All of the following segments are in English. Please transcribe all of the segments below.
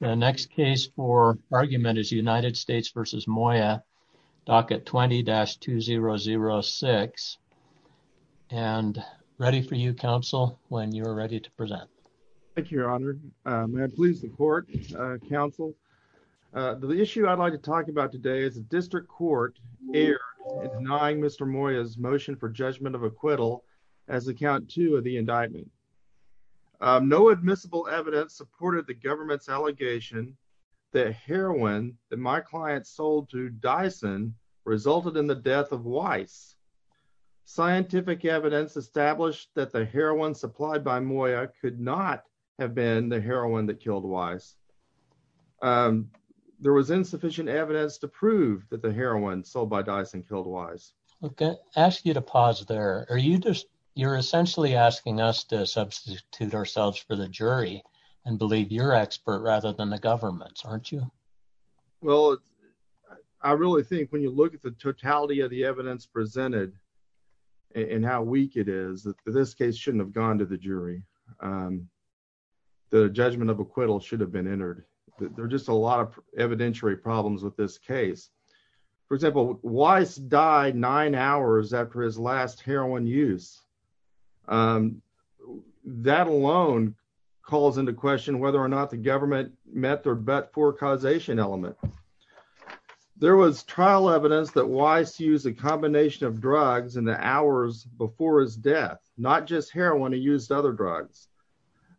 The next case for argument is United States v. Moya, docket 20-2006. And ready for you, counsel, when you're ready to present. Thank you, Your Honor. May I please the court, counsel? The issue I'd like to talk about today is the District Court erred in denying Mr. Moya's motion for judgment of acquittal as account two of the indictment. No admissible evidence supported the government's allegation that heroin that my client sold to Dyson resulted in the death of Weiss. Scientific evidence established that the heroin supplied by Moya could not have been the heroin that killed Weiss. There was insufficient evidence to prove that the heroin sold by Dyson killed Weiss. I ask you to pause there. You're essentially asking us to substitute ourselves for the jury and believe you're expert rather than the government's, aren't you? Well, I really think when you look at the totality of the evidence presented and how weak it is, this case shouldn't have gone to the jury. The judgment of acquittal should have been entered. There are just a lot of evidentiary problems with this case. For example, Weiss died nine hours after his last heroin use. That alone calls into question whether or not the government met their bet for causation element. There was trial evidence that Weiss used a combination of drugs in the hours before his death, not just heroin. He used other drugs.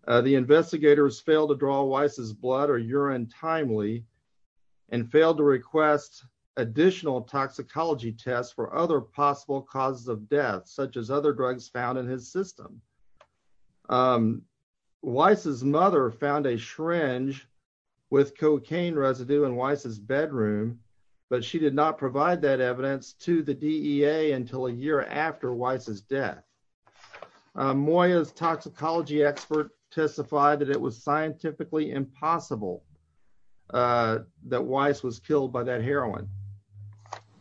The investigators failed to draw Weiss's blood or urine timely and failed to request additional toxicology tests for other possible causes of death, such as other drugs found in his system. Weiss's mother found a syringe with cocaine residue in Weiss's bedroom, but she did not provide that evidence to the DEA until a year after Weiss's death. Moya's toxicology expert testified that it was scientifically impossible that Weiss was killed by that heroin,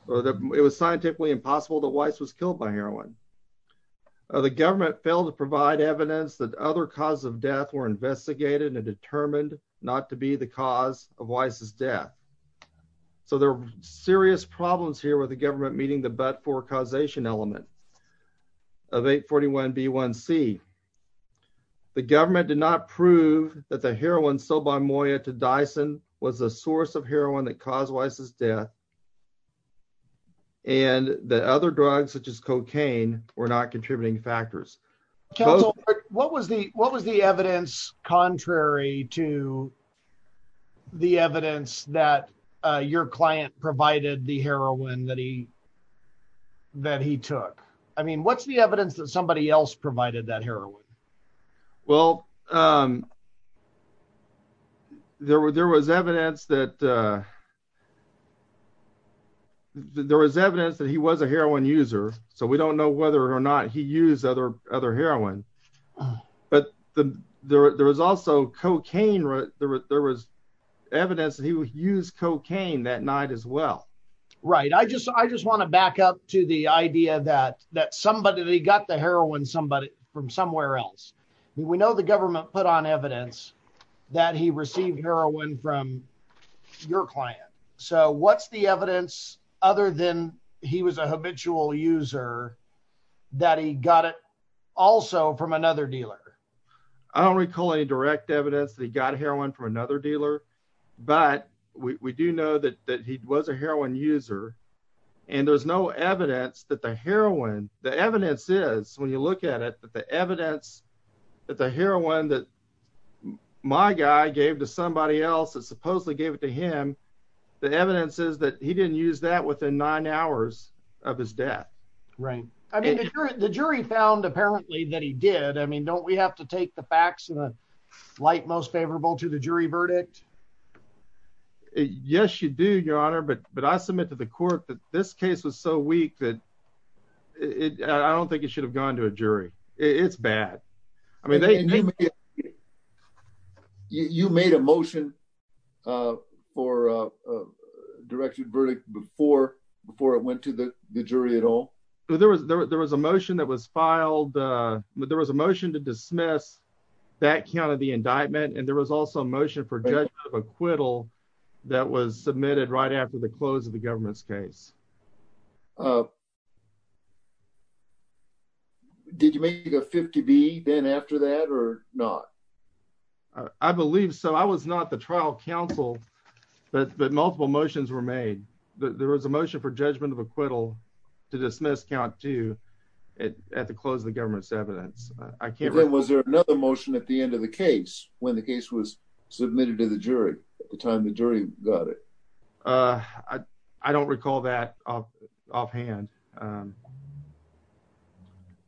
or that it was scientifically impossible that Weiss was killed by heroin. The government failed to provide evidence that other causes of death were investigated and determined not to be the cause of Weiss's death. So there are serious problems here with the government meeting the bet for causation element of 841 B1C. The government did not prove that the heroin sold by Moya to Dyson was a source of heroin that caused Weiss's death. And the other drugs, such as cocaine, were not contributing factors. What was the what was the evidence contrary to the evidence that your client provided the heroin that he that he took? I mean, what's the evidence that somebody else provided that heroin? Well, there were there was evidence that there was evidence that he was a heroin user. So we don't know whether or not he used other other heroin. But there was also cocaine. There was evidence that he would use cocaine that night as well. Right. I just I just want to back up to the idea that that somebody got the heroin somebody from somewhere else. We know the government put on evidence that he received heroin from your client. So what's the evidence other than he was a habitual user that he got it also from another dealer? I don't recall any direct evidence that he got heroin from another dealer. But we do know that that he was a heroin user and there's no evidence that the heroin the evidence is when you look at it, that the evidence that the heroin that my guy gave to somebody else that supposedly gave it to him, the evidence is that he didn't use that within nine hours of his death. Right. I mean, the jury found apparently that he did. I mean, don't we have to take the facts in the light most favorable to the jury verdict? Yes, you do, your honor. But but I submit to the court that this case was so weak that it I don't think it should have gone to a jury. It's bad. I mean, you made a motion for a directed verdict before before it went to the jury at all. There was there was a motion that was filed, but there was a motion to dismiss that kind of the indictment. And there was also a motion for acquittal that was submitted right after the close of the government's case. Did you make a 50 B then after that or not? I believe so. I was not the trial counsel, but multiple motions were made. There was a motion for judgment of acquittal to dismiss count to it at the close of the government's evidence. I can't. Was there another motion at the end of the case when the case was submitted to the jury at the time the jury got it? I don't recall that offhand.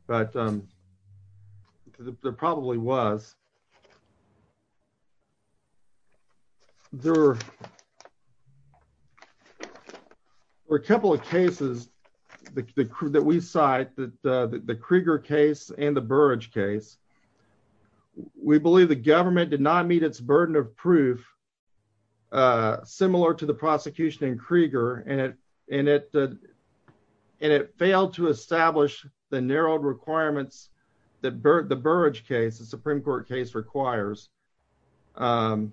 But there probably was. There were a couple of cases that we cite that the Krieger case and the Burrage case, we believe the government did not meet its burden of proof similar to the prosecution in Krieger. And it and it and it failed to establish the narrowed requirements that the Burrage case, the Supreme Court case requires. The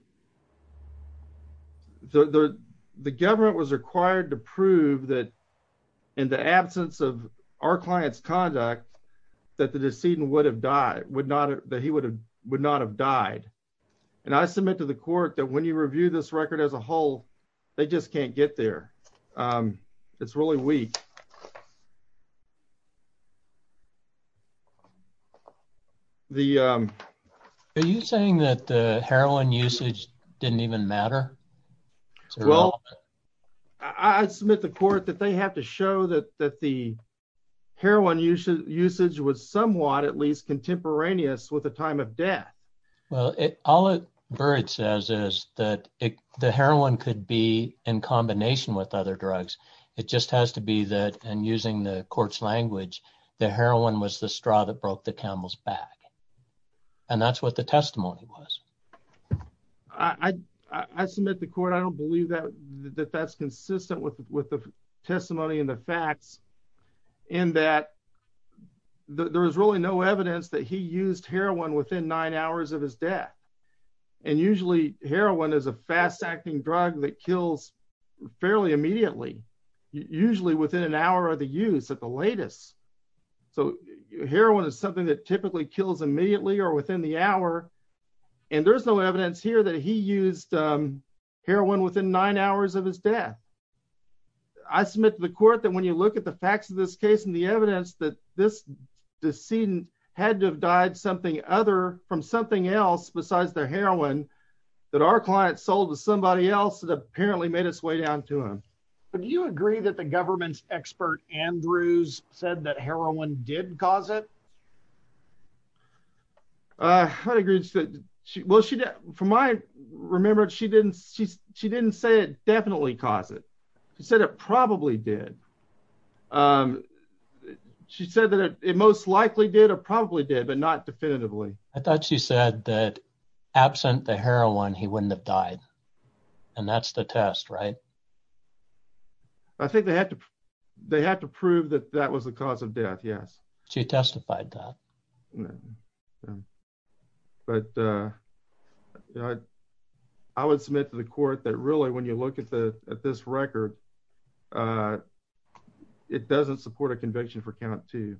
government was required to prove that in the absence of our client's conduct, that the decedent would have died, would not that he would have would not have died. And I submit to the court that when you review this record as a whole, they just can't get there. It's really weak. The are you saying that the heroin usage didn't even matter? Well, I submit the court that they have to show that that the heroin usage usage was somewhat at least contemporaneous with the time of death. Well, it all it says is that the heroin could be in combination with other drugs. It just has to be that. And using the court's language, the heroin was the straw that broke the camel's back. And that's what the testimony was. I submit the court, I don't believe that that's consistent with the testimony and the facts in that there is really no evidence that he used heroin within nine hours of his death. And usually heroin is a fast acting drug that kills fairly immediately, usually within an hour of the use of the latest. So heroin is something that typically kills immediately or within the hour. And there's no evidence here that he used heroin within nine hours of his death. I submit to the court that when you look at the facts of this case and the evidence that this decedent had to have died something other from something else besides the heroin that our client sold to somebody else that apparently made its way down to him. But do you agree that the government's expert Andrews said that heroin did cause it? I agree. Well, she did for my remember, she didn't she she didn't say it definitely caused it. She said it probably did. She said that it most likely did or probably did, but not definitively. I thought she said that absent the heroin, he wouldn't have died. And that's the test, right? I think they had to they had to prove that that was the cause of death. Yes. She testified that. But I would submit to the court that really, when you look at the at this record, it doesn't support a conviction for count to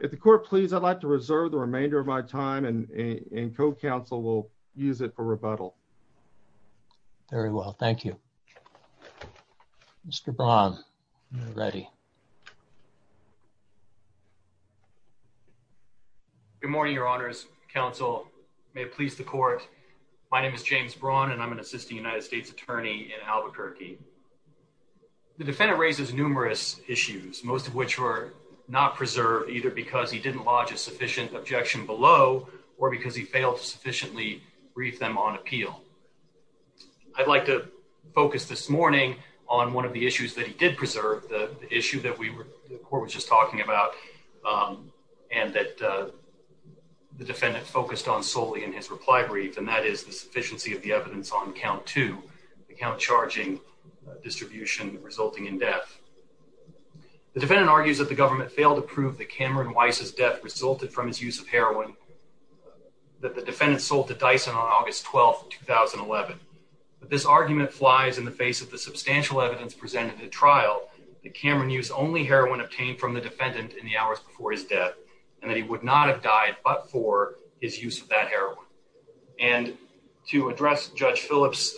the court, please. I'd like to reserve the remainder of my time and co-counsel will use it for rebuttal. Very well. Thank you. Mr. Braun, you're ready. Good morning, your honors, counsel, may it please the court. My name is James Braun and I'm an assistant United States attorney in Albuquerque. The defendant raises numerous issues, most of which were not preserved, either because he didn't lodge a sufficient objection below or because he failed to sufficiently brief them on appeal. I'd like to focus this morning on one of the issues that he did preserve, the issue that we were the court was just talking about and that the defendant focused on solely in his reply brief, and that is the sufficiency of the evidence on count to the count charging distribution resulting in death. The defendant argues that the government failed to prove that Cameron Weiss's death resulted from his use of heroin that the defendant sold to Dyson on August 12th, 2011. But this argument flies in the face of the substantial evidence presented at trial. The Cameron use only heroin obtained from the defendant in the hours before his death and that he would not have died but for his use of that heroin. And to address Judge Phillips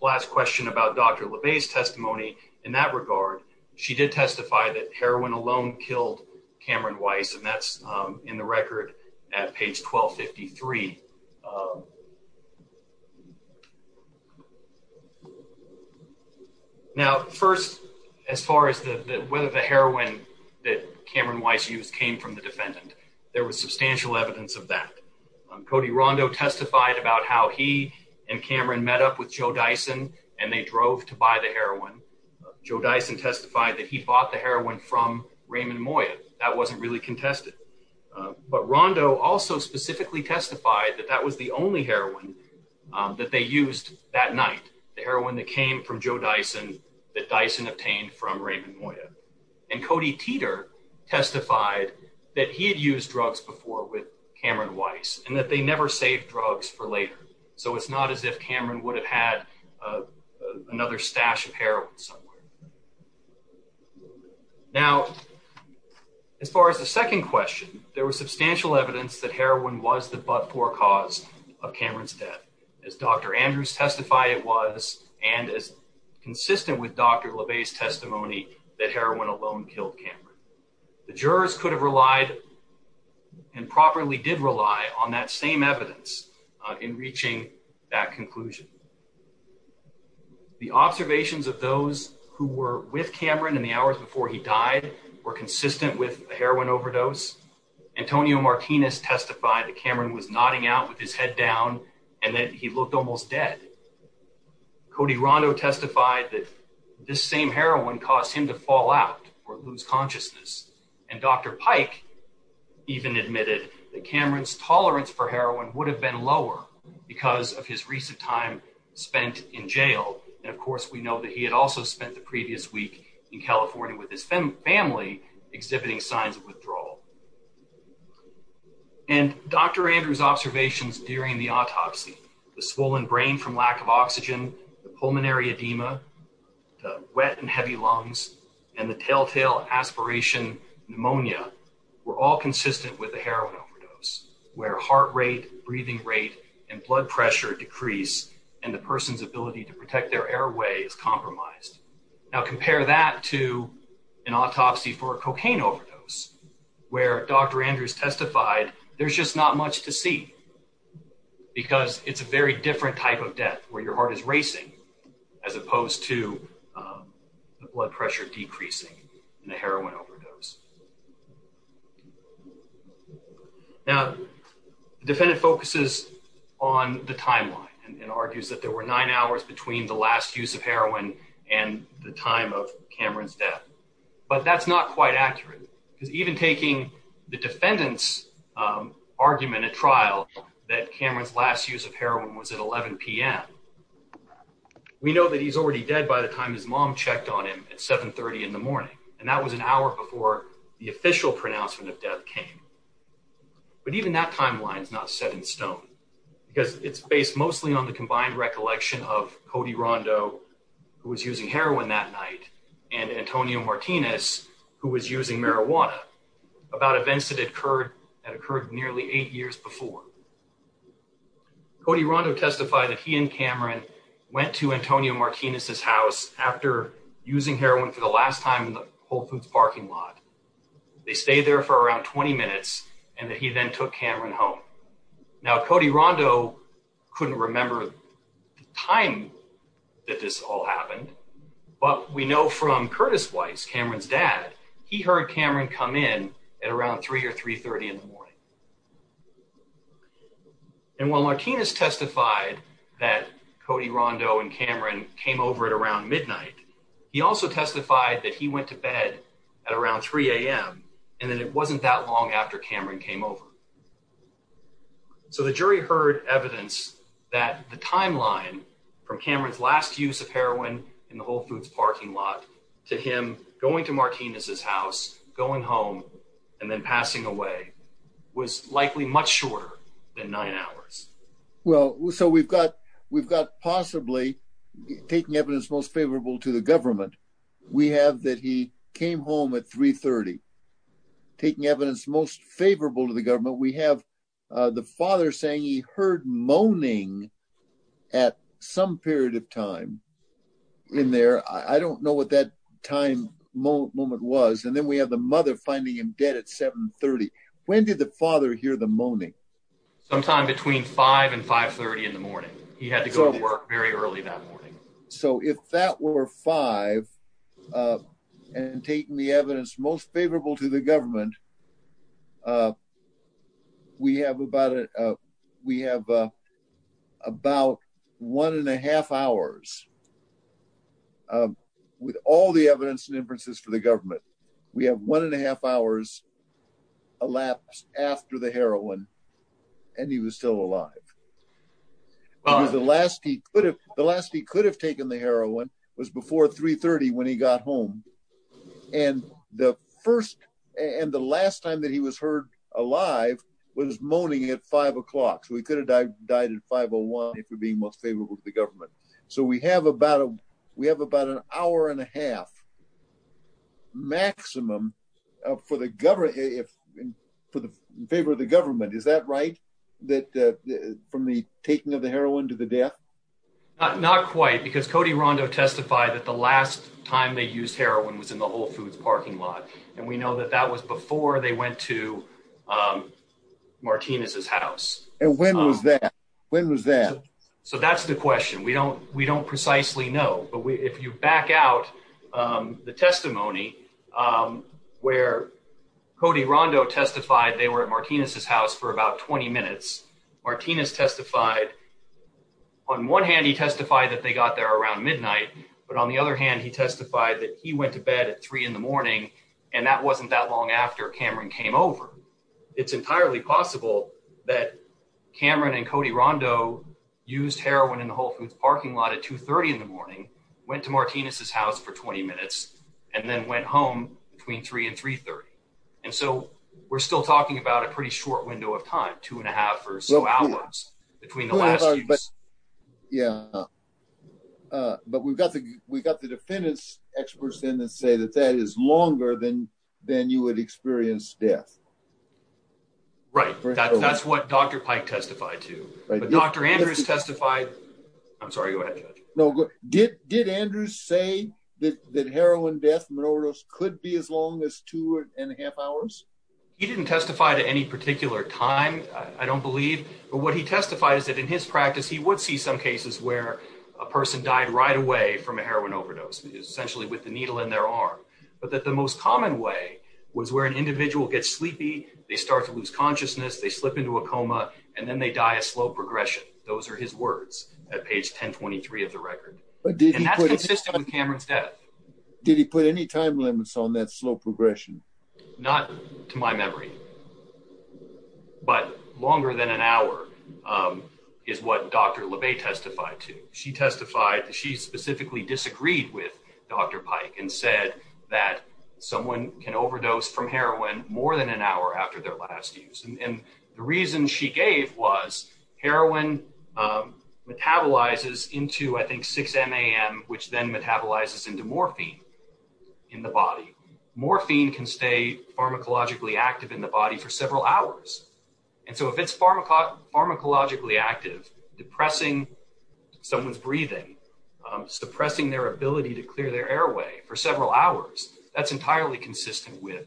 last question about Dr. LeBay's testimony in that regard, she did testify that heroin alone killed Cameron Weiss, and that's in the record at page 1253. Now, first, as far as the whether the heroin that Cameron Weiss used came from the defendant, there was substantial evidence of that. Cody Rondo testified about how he and Cameron met up with Joe Dyson and they drove to buy the heroin. Joe Dyson testified that he bought the heroin from Raymond Moya. That wasn't really contested. But Rondo also specifically testified that that was the only heroin that they used that night. The heroin that came from Joe Dyson that Dyson obtained from Raymond Moya and Cody Teeter testified that he had used drugs before with Cameron Weiss and that they never saved drugs for later. So it's not as if Cameron would have had another stash of heroin somewhere. Now, as far as the second question, there was substantial evidence that heroin was the but for cause of Cameron's death, as Dr. Andrews testified it was, and as consistent with Dr. LeBay's testimony, that heroin alone killed Cameron. The jurors could have relied and properly did rely on that same evidence in reaching that conclusion. The observations of those who were with Cameron in the hours before he died were consistent with a heroin overdose. Antonio Martinez testified that Cameron was nodding out with his head down and that he looked almost dead. Cody Rondo testified that this same heroin caused him to fall out or lose consciousness, and Dr. Pike even admitted that Cameron's tolerance for heroin would have been lower because of his recent time spent in jail. And of course, we know that he had also spent the previous week in California with his family exhibiting signs of withdrawal. And Dr. Andrews observations during the autopsy, the swollen brain from lack of oxygen, the pneumonia were all consistent with the heroin overdose where heart rate, breathing rate and blood pressure decrease and the person's ability to protect their airway is compromised. Now, compare that to an autopsy for a cocaine overdose where Dr. Andrews testified, there's just not much to see because it's a very different type of death where your heart is racing as opposed to the blood pressure decreasing in a cocaine overdose. Now, the defendant focuses on the timeline and argues that there were nine hours between the last use of heroin and the time of Cameron's death. But that's not quite accurate because even taking the defendant's argument at trial that Cameron's last use of heroin was at 11 p.m. We know that he's already dead by the time his mom checked on him at 730 in the morning and that was an hour before the official pronouncement of death came. But even that timeline is not set in stone because it's based mostly on the combined recollection of Cody Rondo, who was using heroin that night, and Antonio Martinez, who was using marijuana about events that had occurred nearly eight years before. Cody Rondo testified that he and Cameron went to Antonio Martinez's house after using Whole Foods parking lot. They stayed there for around 20 minutes and that he then took Cameron home. Now, Cody Rondo couldn't remember the time that this all happened, but we know from Curtis Weiss, Cameron's dad, he heard Cameron come in at around three or three thirty in the morning. And while Martinez testified that Cody Rondo and Cameron came over at around midnight, he also testified that he went to bed at around three a.m. And then it wasn't that long after Cameron came over. So the jury heard evidence that the timeline from Cameron's last use of heroin in the Whole Foods parking lot to him going to Martinez's house, going home and then passing away was likely much shorter than nine hours. Well, so we've got we've got possibly taking evidence most favorable to the government. We have that he came home at three thirty, taking evidence most favorable to the government. We have the father saying he heard moaning at some period of time in there. I don't know what that time moment was. And then we have the mother finding him dead at seven thirty. When did the father hear the moaning? Sometime between five and five thirty in the morning, he had to go to work very early that morning. So if that were five and taking the evidence most favorable to the government. We have about it, we have about one and a half hours. With all the evidence and inferences for the government, we have one and a half hours elapsed after the heroin and he was still alive. The last he could have the last he could have taken the heroin was before three thirty when he got home and the first and the last time that he was heard alive was moaning at five o'clock. So he could have died at five or one if you're being most favorable to the government. So we have about a we have about an hour and a half. Maximum for the government, if for the favor of the government, is that right, that from the taking of the heroin to the death? Not quite, because Cody Rondo testified that the last time they used heroin was in the Whole Foods parking lot. And we know that that was before they went to Martinez's house. And when was that? When was that? So that's the question. We don't we don't precisely know. But if you back out the testimony where Cody Rondo testified, they were at Martinez's house for about 20 minutes. Martinez testified. On one hand, he testified that they got there around midnight, but on the other hand, he testified that he went to bed at three in the morning and that wasn't that long after Cameron came over. It's entirely possible that Cameron and Cody Rondo used heroin in the Whole Foods parking lot at two thirty in the morning, went to Martinez's house for 20 minutes and then went home between three and three thirty. And so we're still talking about a pretty short window of time, two and a half or so hours between the last. Yeah, but we've got the we've got the defendants experts in that say that that is longer than than you would experience death. Right, that's what Dr. Pike testified to, but Dr. Andrews testified. I'm sorry. Go ahead. No. Did did Andrews say that heroin death and overdose could be as long as two and a half hours? He didn't testify to any particular time, I don't believe. But what he testified is that in his practice, he would see some cases where a person died right away from a heroin overdose, essentially with the needle in their arm. But that the most common way was where an individual gets sleepy, they start to lose consciousness, they slip into a coma and then they die a slow progression. Those are his words at page 10. Twenty three of the record. But that's consistent with Cameron's death. Did he put any time limits on that slow progression? Not to my memory. But longer than an hour is what Dr. LeBay testified to. She testified that she specifically disagreed with Dr. Pike and said that someone can overdose from heroin more than an hour after their last use. And the reason she gave was heroin metabolizes into, I think, 6 a.m., which then metabolizes into morphine in the body. Morphine can stay pharmacologically active in the body for several hours. And so if it's pharmacologically active, depressing someone's breathing, suppressing their ability to clear their airway for several hours, that's entirely consistent with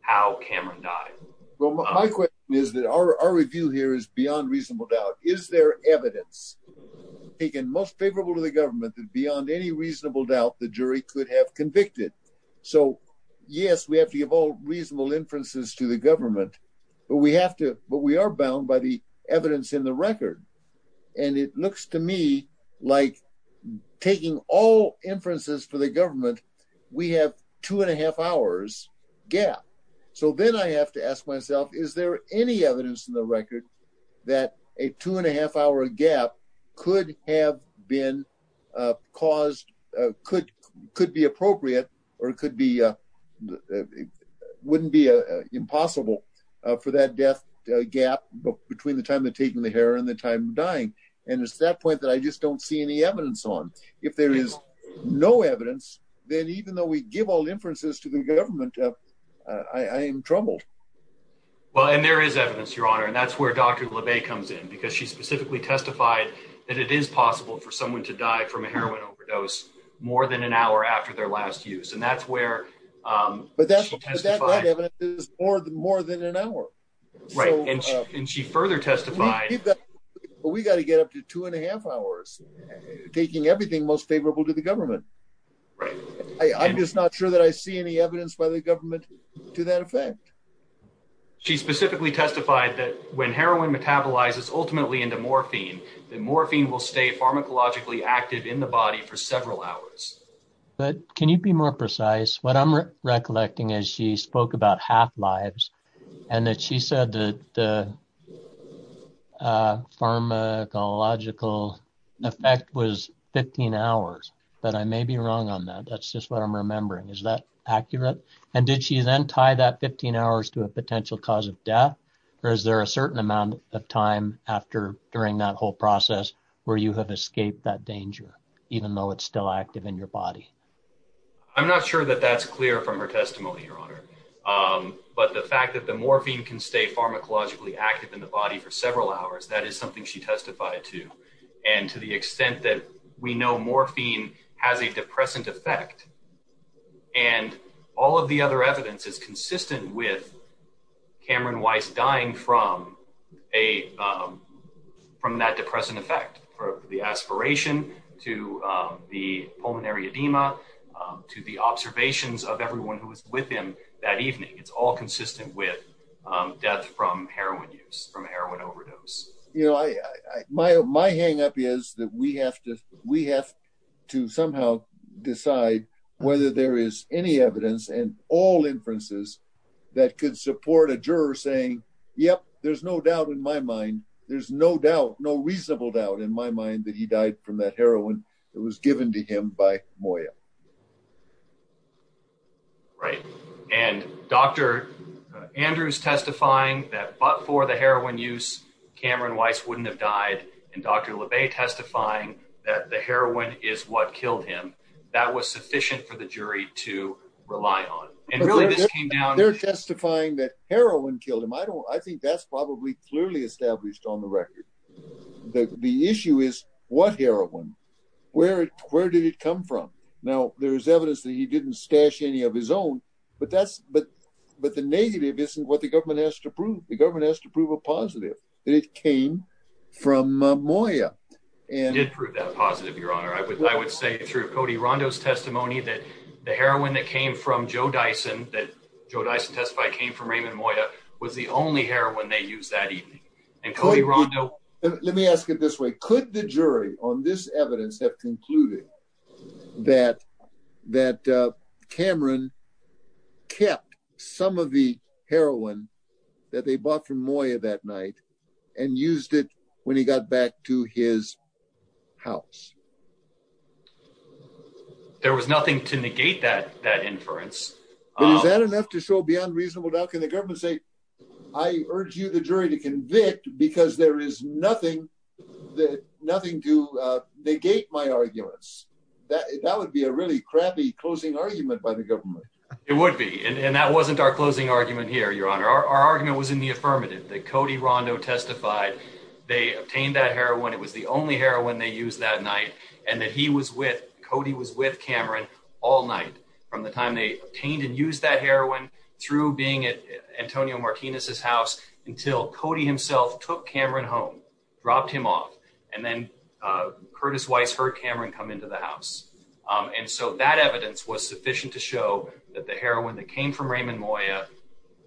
how Cameron died. Well, my question is that our review here is beyond reasonable doubt. Is there evidence taken most favorable to the government that beyond any reasonable doubt the jury could have convicted? So, yes, we have to give all reasonable inferences to the government, but we have to but we are bound by the evidence in the record. And it looks to me like taking all inferences for the government, we have two and a half hours gap. So then I have to ask myself, is there any evidence in the record that a two and a half hour gap could have been caused, could be appropriate or could be wouldn't be impossible for that death gap between the time of taking the hair and the time of dying? And it's that point that I just don't see any evidence on. If there is no evidence, then even though we give all inferences to the government, I am troubled. Well, and there is evidence, Your Honor, and that's where Dr. LeBay comes in, because she specifically testified that it is possible for someone to die from a heroin overdose more than an hour after their last use. And that's where. But that is more than more than an hour. Right. And she further testified that we got to get up to two and a half hours, taking everything most favorable to the government. Right. I'm just not sure that I see any evidence by the government to that effect. She specifically testified that when heroin metabolizes ultimately into morphine, the morphine will stay pharmacologically active in the body for several hours. But can you be more precise? What I'm recollecting is she spoke about half lives and that she said that the pharmacological effect was 15 hours. But I may be wrong on that. That's just what I'm remembering. Is that accurate? And did she then tie that 15 hours to a potential cause of death? Or is there a certain amount of time after during that whole process where you have escaped that danger, even though it's still active in your body? I'm not sure that that's clear from her testimony, Your Honor, but the fact that the morphine can stay pharmacologically active in the body for several hours, that is something she testified to. And to the extent that we know morphine has a depressant effect. And all of the other evidence is consistent with Cameron Weiss dying from a from that depressant effect for the aspiration to the pulmonary edema, to the observations of everyone who was with him that evening. It's all consistent with death from heroin use, from heroin overdose. You know, my my hang up is that we have to we have to somehow decide whether there is any evidence and all inferences that could support a juror saying, yep, there's no doubt in my mind, there's no doubt, no reasonable doubt in my mind that he died from that heroin that was given to him by Moya. Right. And Dr. Andrews testifying that but for the heroin use, Cameron Weiss wouldn't have died, and Dr. LeBay testifying that the heroin is what killed him, that was sufficient for the jury to rely on and really this came down. They're testifying that heroin killed him. I don't I think that's probably clearly established on the record that the issue is what heroin, where where did it come from? Now, there is evidence that he didn't stash any of his own, but that's but but the negative isn't what the government has to prove. The government has to prove a positive that it came from Moya and it proved that positive, Your Honor. I would I would say through Cody Rondo's testimony that the heroin that came from Joe Dyson that Joe Dyson testified came from Raymond Moya was the only heroin they used that evening. And Cody Rondo. Let me ask it this way, could the jury on this evidence have concluded that that Cameron kept some of the heroin that they bought from Moya that night and used it when he got back to his house? There was nothing to negate that, that inference. Is that enough to show beyond reasonable doubt? Can the government say I urge you, the jury, to convict because there is nothing that nothing to negate my arguments that that would be a really crappy closing argument by the government? It would be. And that wasn't our closing argument here. Your Honor, our argument was in the affirmative that Cody Rondo testified. They obtained that heroin. It was the only heroin they used that night and that he was with Cody was with Cameron all night from the time they obtained and used that heroin through being at Antonio Martinez's house until Cody himself took Cameron home, dropped him off. And then Curtis Weiss heard Cameron come into the house. And so that evidence was sufficient to show that the heroin that came from Raymond Moya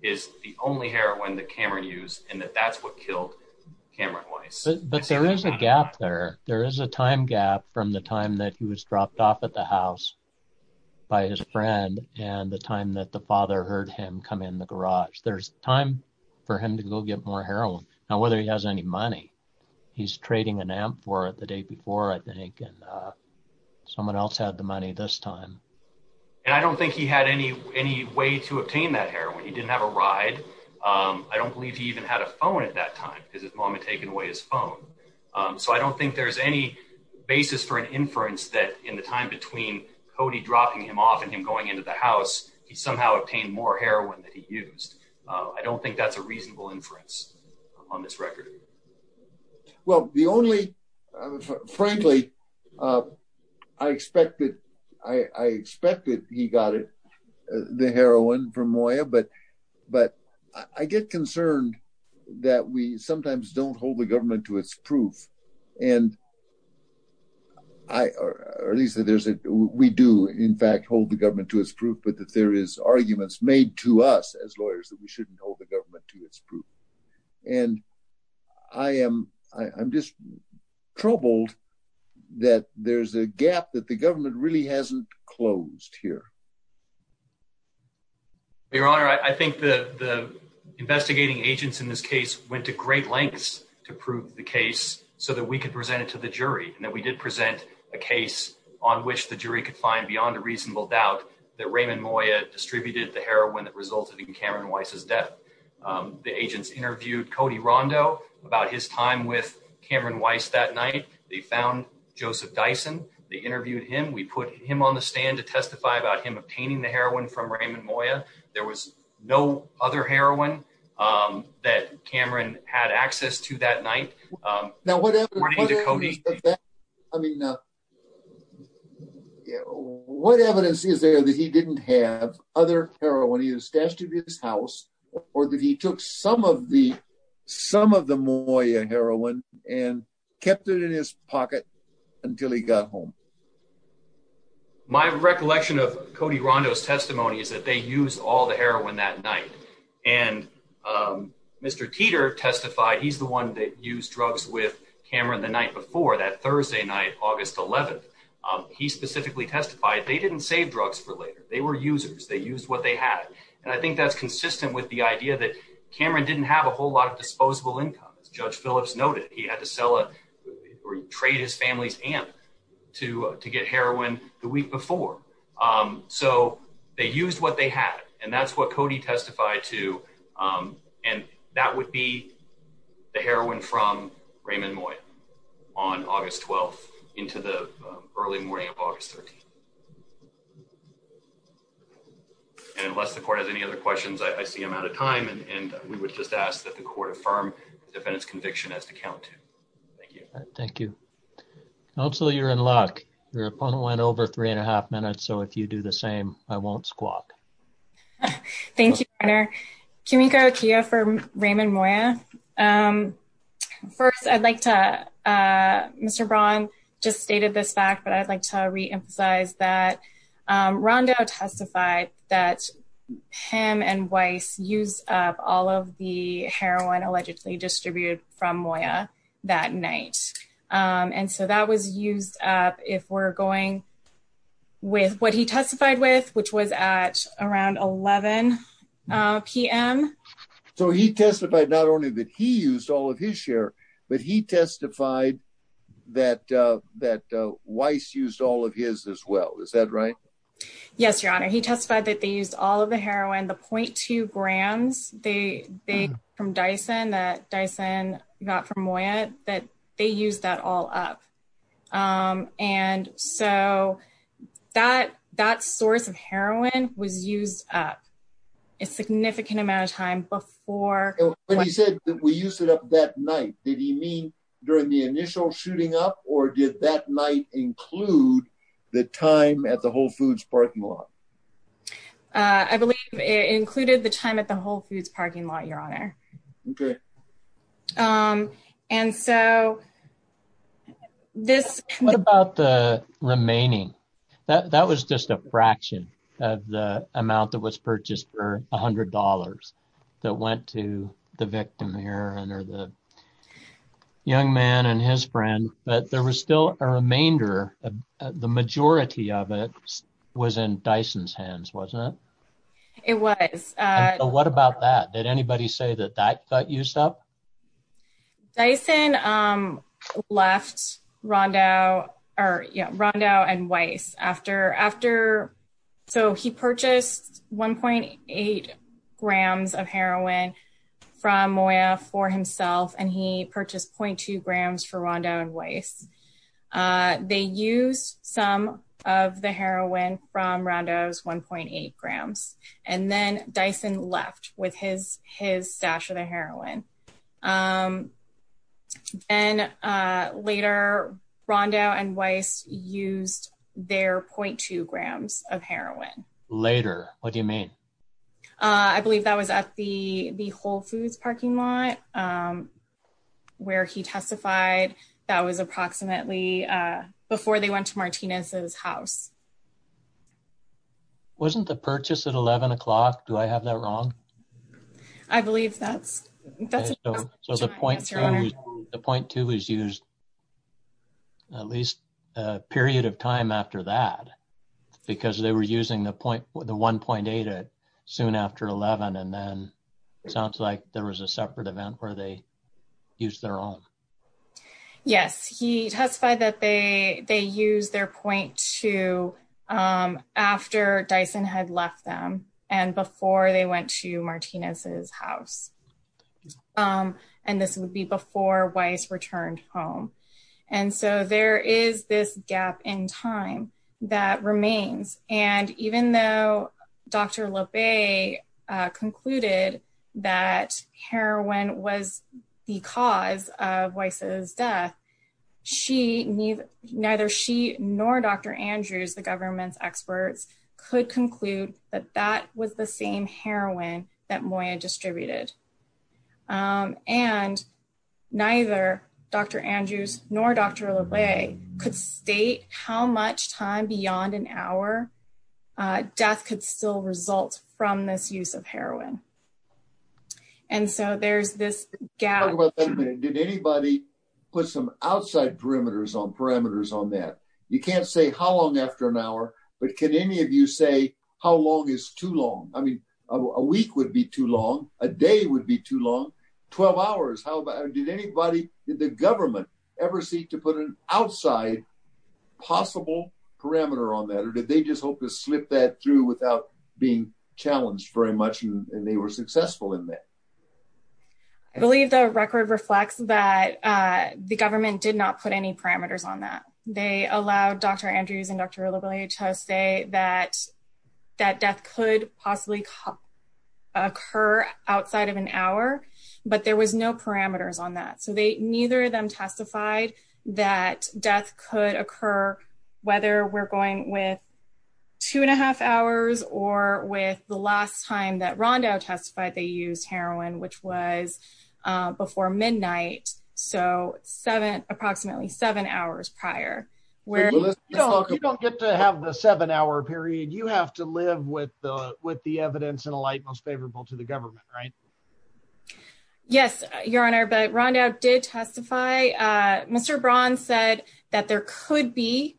is the only heroin that Cameron used and that that's what killed Cameron Weiss. But there is a gap there. There is a time gap from the time that he was dropped off at the house. By his friend and the time that the father heard him come in the garage, there's time for him to go get more heroin now, whether he has any money he's trading an amp for the day before, I think, and someone else had the money this time. And I don't think he had any any way to obtain that heroin. He didn't have a ride. I don't believe he even had a phone at that time because his mom had taken away his phone. So I don't think there's any basis for an inference that in the time between Cody dropping him off and him going into the house, he somehow obtained more heroin that he used. I don't think that's a reasonable inference on this record. Well, the only frankly, I expected I expected he got it, the heroin from Moya, but but I get concerned that we sometimes don't hold the government to its proof and. I or at least there's a we do, in fact, hold the government to its proof, but that there is arguments made to us as lawyers that we shouldn't hold the government to its proof. And I am I'm just troubled that there's a gap that the government really hasn't closed here. Your Honor, I think the the investigating agents in this case went to great lengths to prove the case so that we could present it to the jury and that we did present a case on which the jury could find beyond a reasonable doubt that Raymond Moya distributed the heroin that resulted in Cameron Weiss's death. The agents interviewed Cody Rondo about his time with Cameron Weiss that night. They found Joseph Dyson. They interviewed him. We put him on the stand to testify about him obtaining the heroin from Raymond Moya. There was no other heroin that Cameron had access to that night. Now, what happened to Cody? I mean, what evidence is there that he didn't have other heroin either stashed in his house or that he took some of the some of the Moya heroin and kept it in his pocket until he got home? My recollection of Cody Rondo's testimony is that they use all the heroin that night. And Mr. Teeter testified he's the one that used drugs with Cameron the night before that Thursday night, August 11th. He specifically testified they didn't save drugs for later. They were users. They used what they had. And I think that's consistent with the idea that Cameron didn't have a whole lot of family's and to to get heroin the week before. So they used what they had. And that's what Cody testified to. And that would be the heroin from Raymond Moya on August 12th into the early morning of August 13th. And unless the court has any other questions, I see I'm out of time and we would just ask that the court affirm the defendant's conviction as to count to. Thank you. Thank you. Counselor, you're in luck. Your opponent went over three and a half minutes. So if you do the same, I won't squawk. Thank you. Can we go to you for Raymond Moya? First, I'd like to Mr. Braun just stated this fact, but I'd like to reemphasize that Rondo testified that him and Weiss used up all of the heroin allegedly distributed from Moya that night. And so that was used up if we're going with what he testified with, which was at around 11 p.m. So he testified not only that he used all of his share, but he testified that that Weiss used all of his as well. Is that right? Yes, your honor. He testified that they used all of the heroin, the point two grams they they from Dyson that Dyson got from Moya, that they used that all up. And so that that source of heroin was used up a significant amount of time before. But he said that we used it up that night. Did he mean during the initial shooting up or did that night include the time at the Whole Foods parking lot? I believe it included the time at the Whole Foods parking lot, your honor. OK. And so. This what about the remaining that that was just a fraction of the amount that was purchased for one hundred dollars that went to the victim here and or the young man and his friend. But there was still a remainder of the majority of it was in Dyson's hands, wasn't it? It was. What about that? Did anybody say that? That got used up. Dyson left Rondo or Rondo and Weiss after after. So he purchased one point eight grams of heroin from Moya for himself and he purchased point two grams for Rondo and Weiss. They used some of the heroin from Rondo's one point eight grams. And then Dyson left with his his stash of the heroin. And later, Rondo and Weiss used their point two grams of heroin later. What do you mean? I believe that was at the the Whole Foods parking lot where he testified that was approximately before they went to Martinez's house. Wasn't the purchase at eleven o'clock. Do I have that wrong? I believe that's so the point to the point to is used. At least a period of time after that, because they were using the point with the one point eight soon after eleven, and then it sounds like there was a separate event where they use their own. Yes, he testified that they they use their point to after Dyson had left them and before they went to Martinez's house. And this would be before Weiss returned home. And so there is this gap in time that remains. And even though Dr. Lopez concluded that heroin was the cause of Weiss's death, she neither she nor Dr. Andrews, the government's experts, could conclude that that was the same heroin that Moya distributed. And neither Dr. Andrews nor Dr. Lowe could state how much time beyond an hour death could still result from this use of heroin. And so there's this gap. Did anybody put some outside perimeters on parameters on that? You can't say how long after an hour, but can any of you say how long is too long? I mean, a week would be too long. A day would be too long. 12 hours. How did anybody in the government ever seek to put an outside possible parameter on that? Or did they just hope to slip that through without being challenged very much? And they were successful in that. I believe the record reflects that the government did not put any parameters on that. They allowed Dr. Andrews and Dr. Lowe to say that that death could possibly occur outside of an hour, but there was no parameters on that. So they neither of them testified that death could occur whether we're going with two and a half hours or with the last time that Rondo testified they used heroin, which was before midnight. So seven approximately seven hours prior where you don't get to have the seven hour period. You have to live with the with the evidence in a light most favorable to the government, right? Yes, your honor. But Rondo did testify. Mr. Braun said that there could be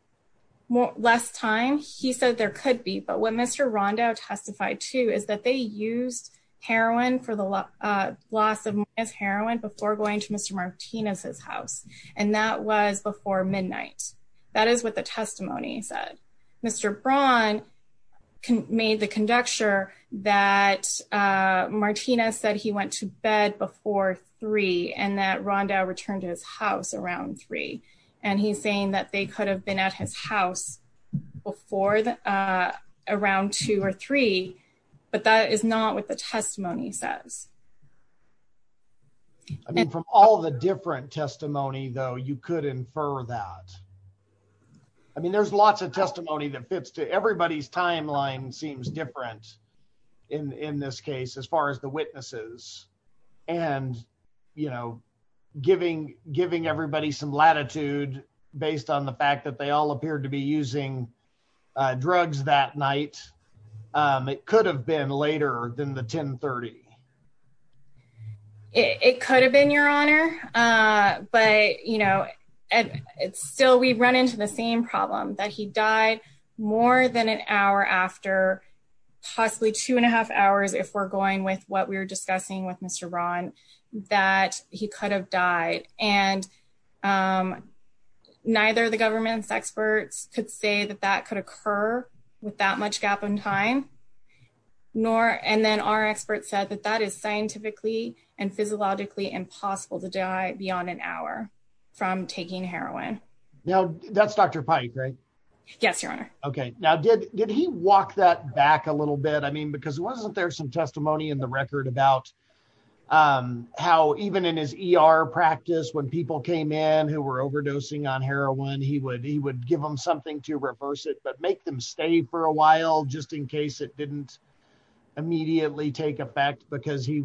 less time. He said there could be. But when Mr. Rondo testified, too, is that they used heroin for the loss of his heroin before going to Mr. Martinez's house. And that was before midnight. That is what the testimony said. Mr. Braun made the conjecture that Martinez said he went to bed before three and that Rondo returned to his house around three. And he's saying that they could have been at his house before around two or three. But that is not what the testimony says. I mean, from all the different testimony, though, you could infer that. I mean, there's lots of testimony that fits to everybody's timeline seems different in this case as far as the witnesses and, you know, giving giving everybody some latitude based on the fact that they all appeared to be using drugs that night. It could have been later than the 1030. It could have been, your honor, but, you know, it's still we run into the same problem that he died more than an hour after possibly two and a half hours. If we're going with what we were discussing with Mr. Braun, that he could have died. And neither of the government's experts could say that that could occur with that much gap in time, nor and then our experts said that that is scientifically and physiologically impossible to die beyond an hour from taking heroin. Now, that's Dr. Pike, right? Yes, your honor. OK, now, did did he walk that back a little bit? I mean, because wasn't there some testimony in the record about how even in his ER practice when people came in who were overdosing on heroin, he would he would give them something to reverse it, but make them stay for a while just in case it didn't immediately take effect because he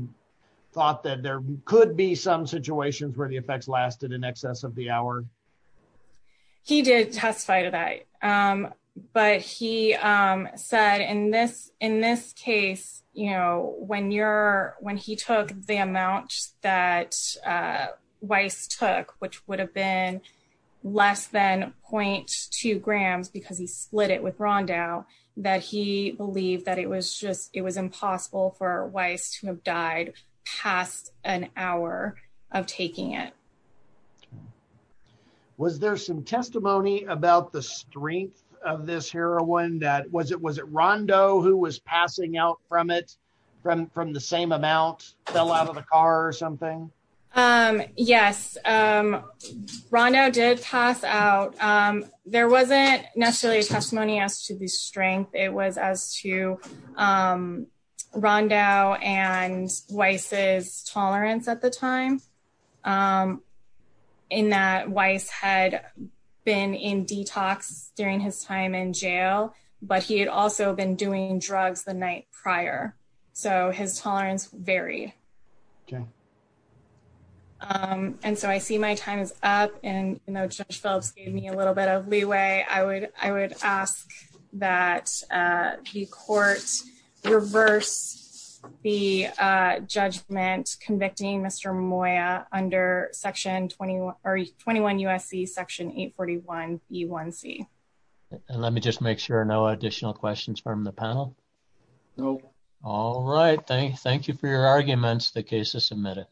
thought that there could be some situations where the effects lasted in excess of the hour. He did testify to that, but he said in this in this case, you know, when you're when he took the amount that Weiss took, which would have been less than point two grams because he split it with Rondo that he believed that it was just it was impossible for Weiss to have died past an hour of taking it. OK, was there some testimony about the strength of this heroin that was it was it Rondo who was passing out from it, from from the same amount fell out of the car or something? Yes, Rondo did pass out. There wasn't necessarily a testimony as to the strength. It was as to Rondo and Weiss's tolerance at the time. In that Weiss had been in detox during his time in jail, but he had also been doing drugs the night prior, so his tolerance varied. And so I see my time is up and Judge Phillips gave me a little bit of leeway, I would I The court reversed the judgment convicting Mr. Moya under Section 21 or 21 USC Section 841 E1C. And let me just make sure no additional questions from the panel. No. All right. Thank you for your arguments. The case is submitted.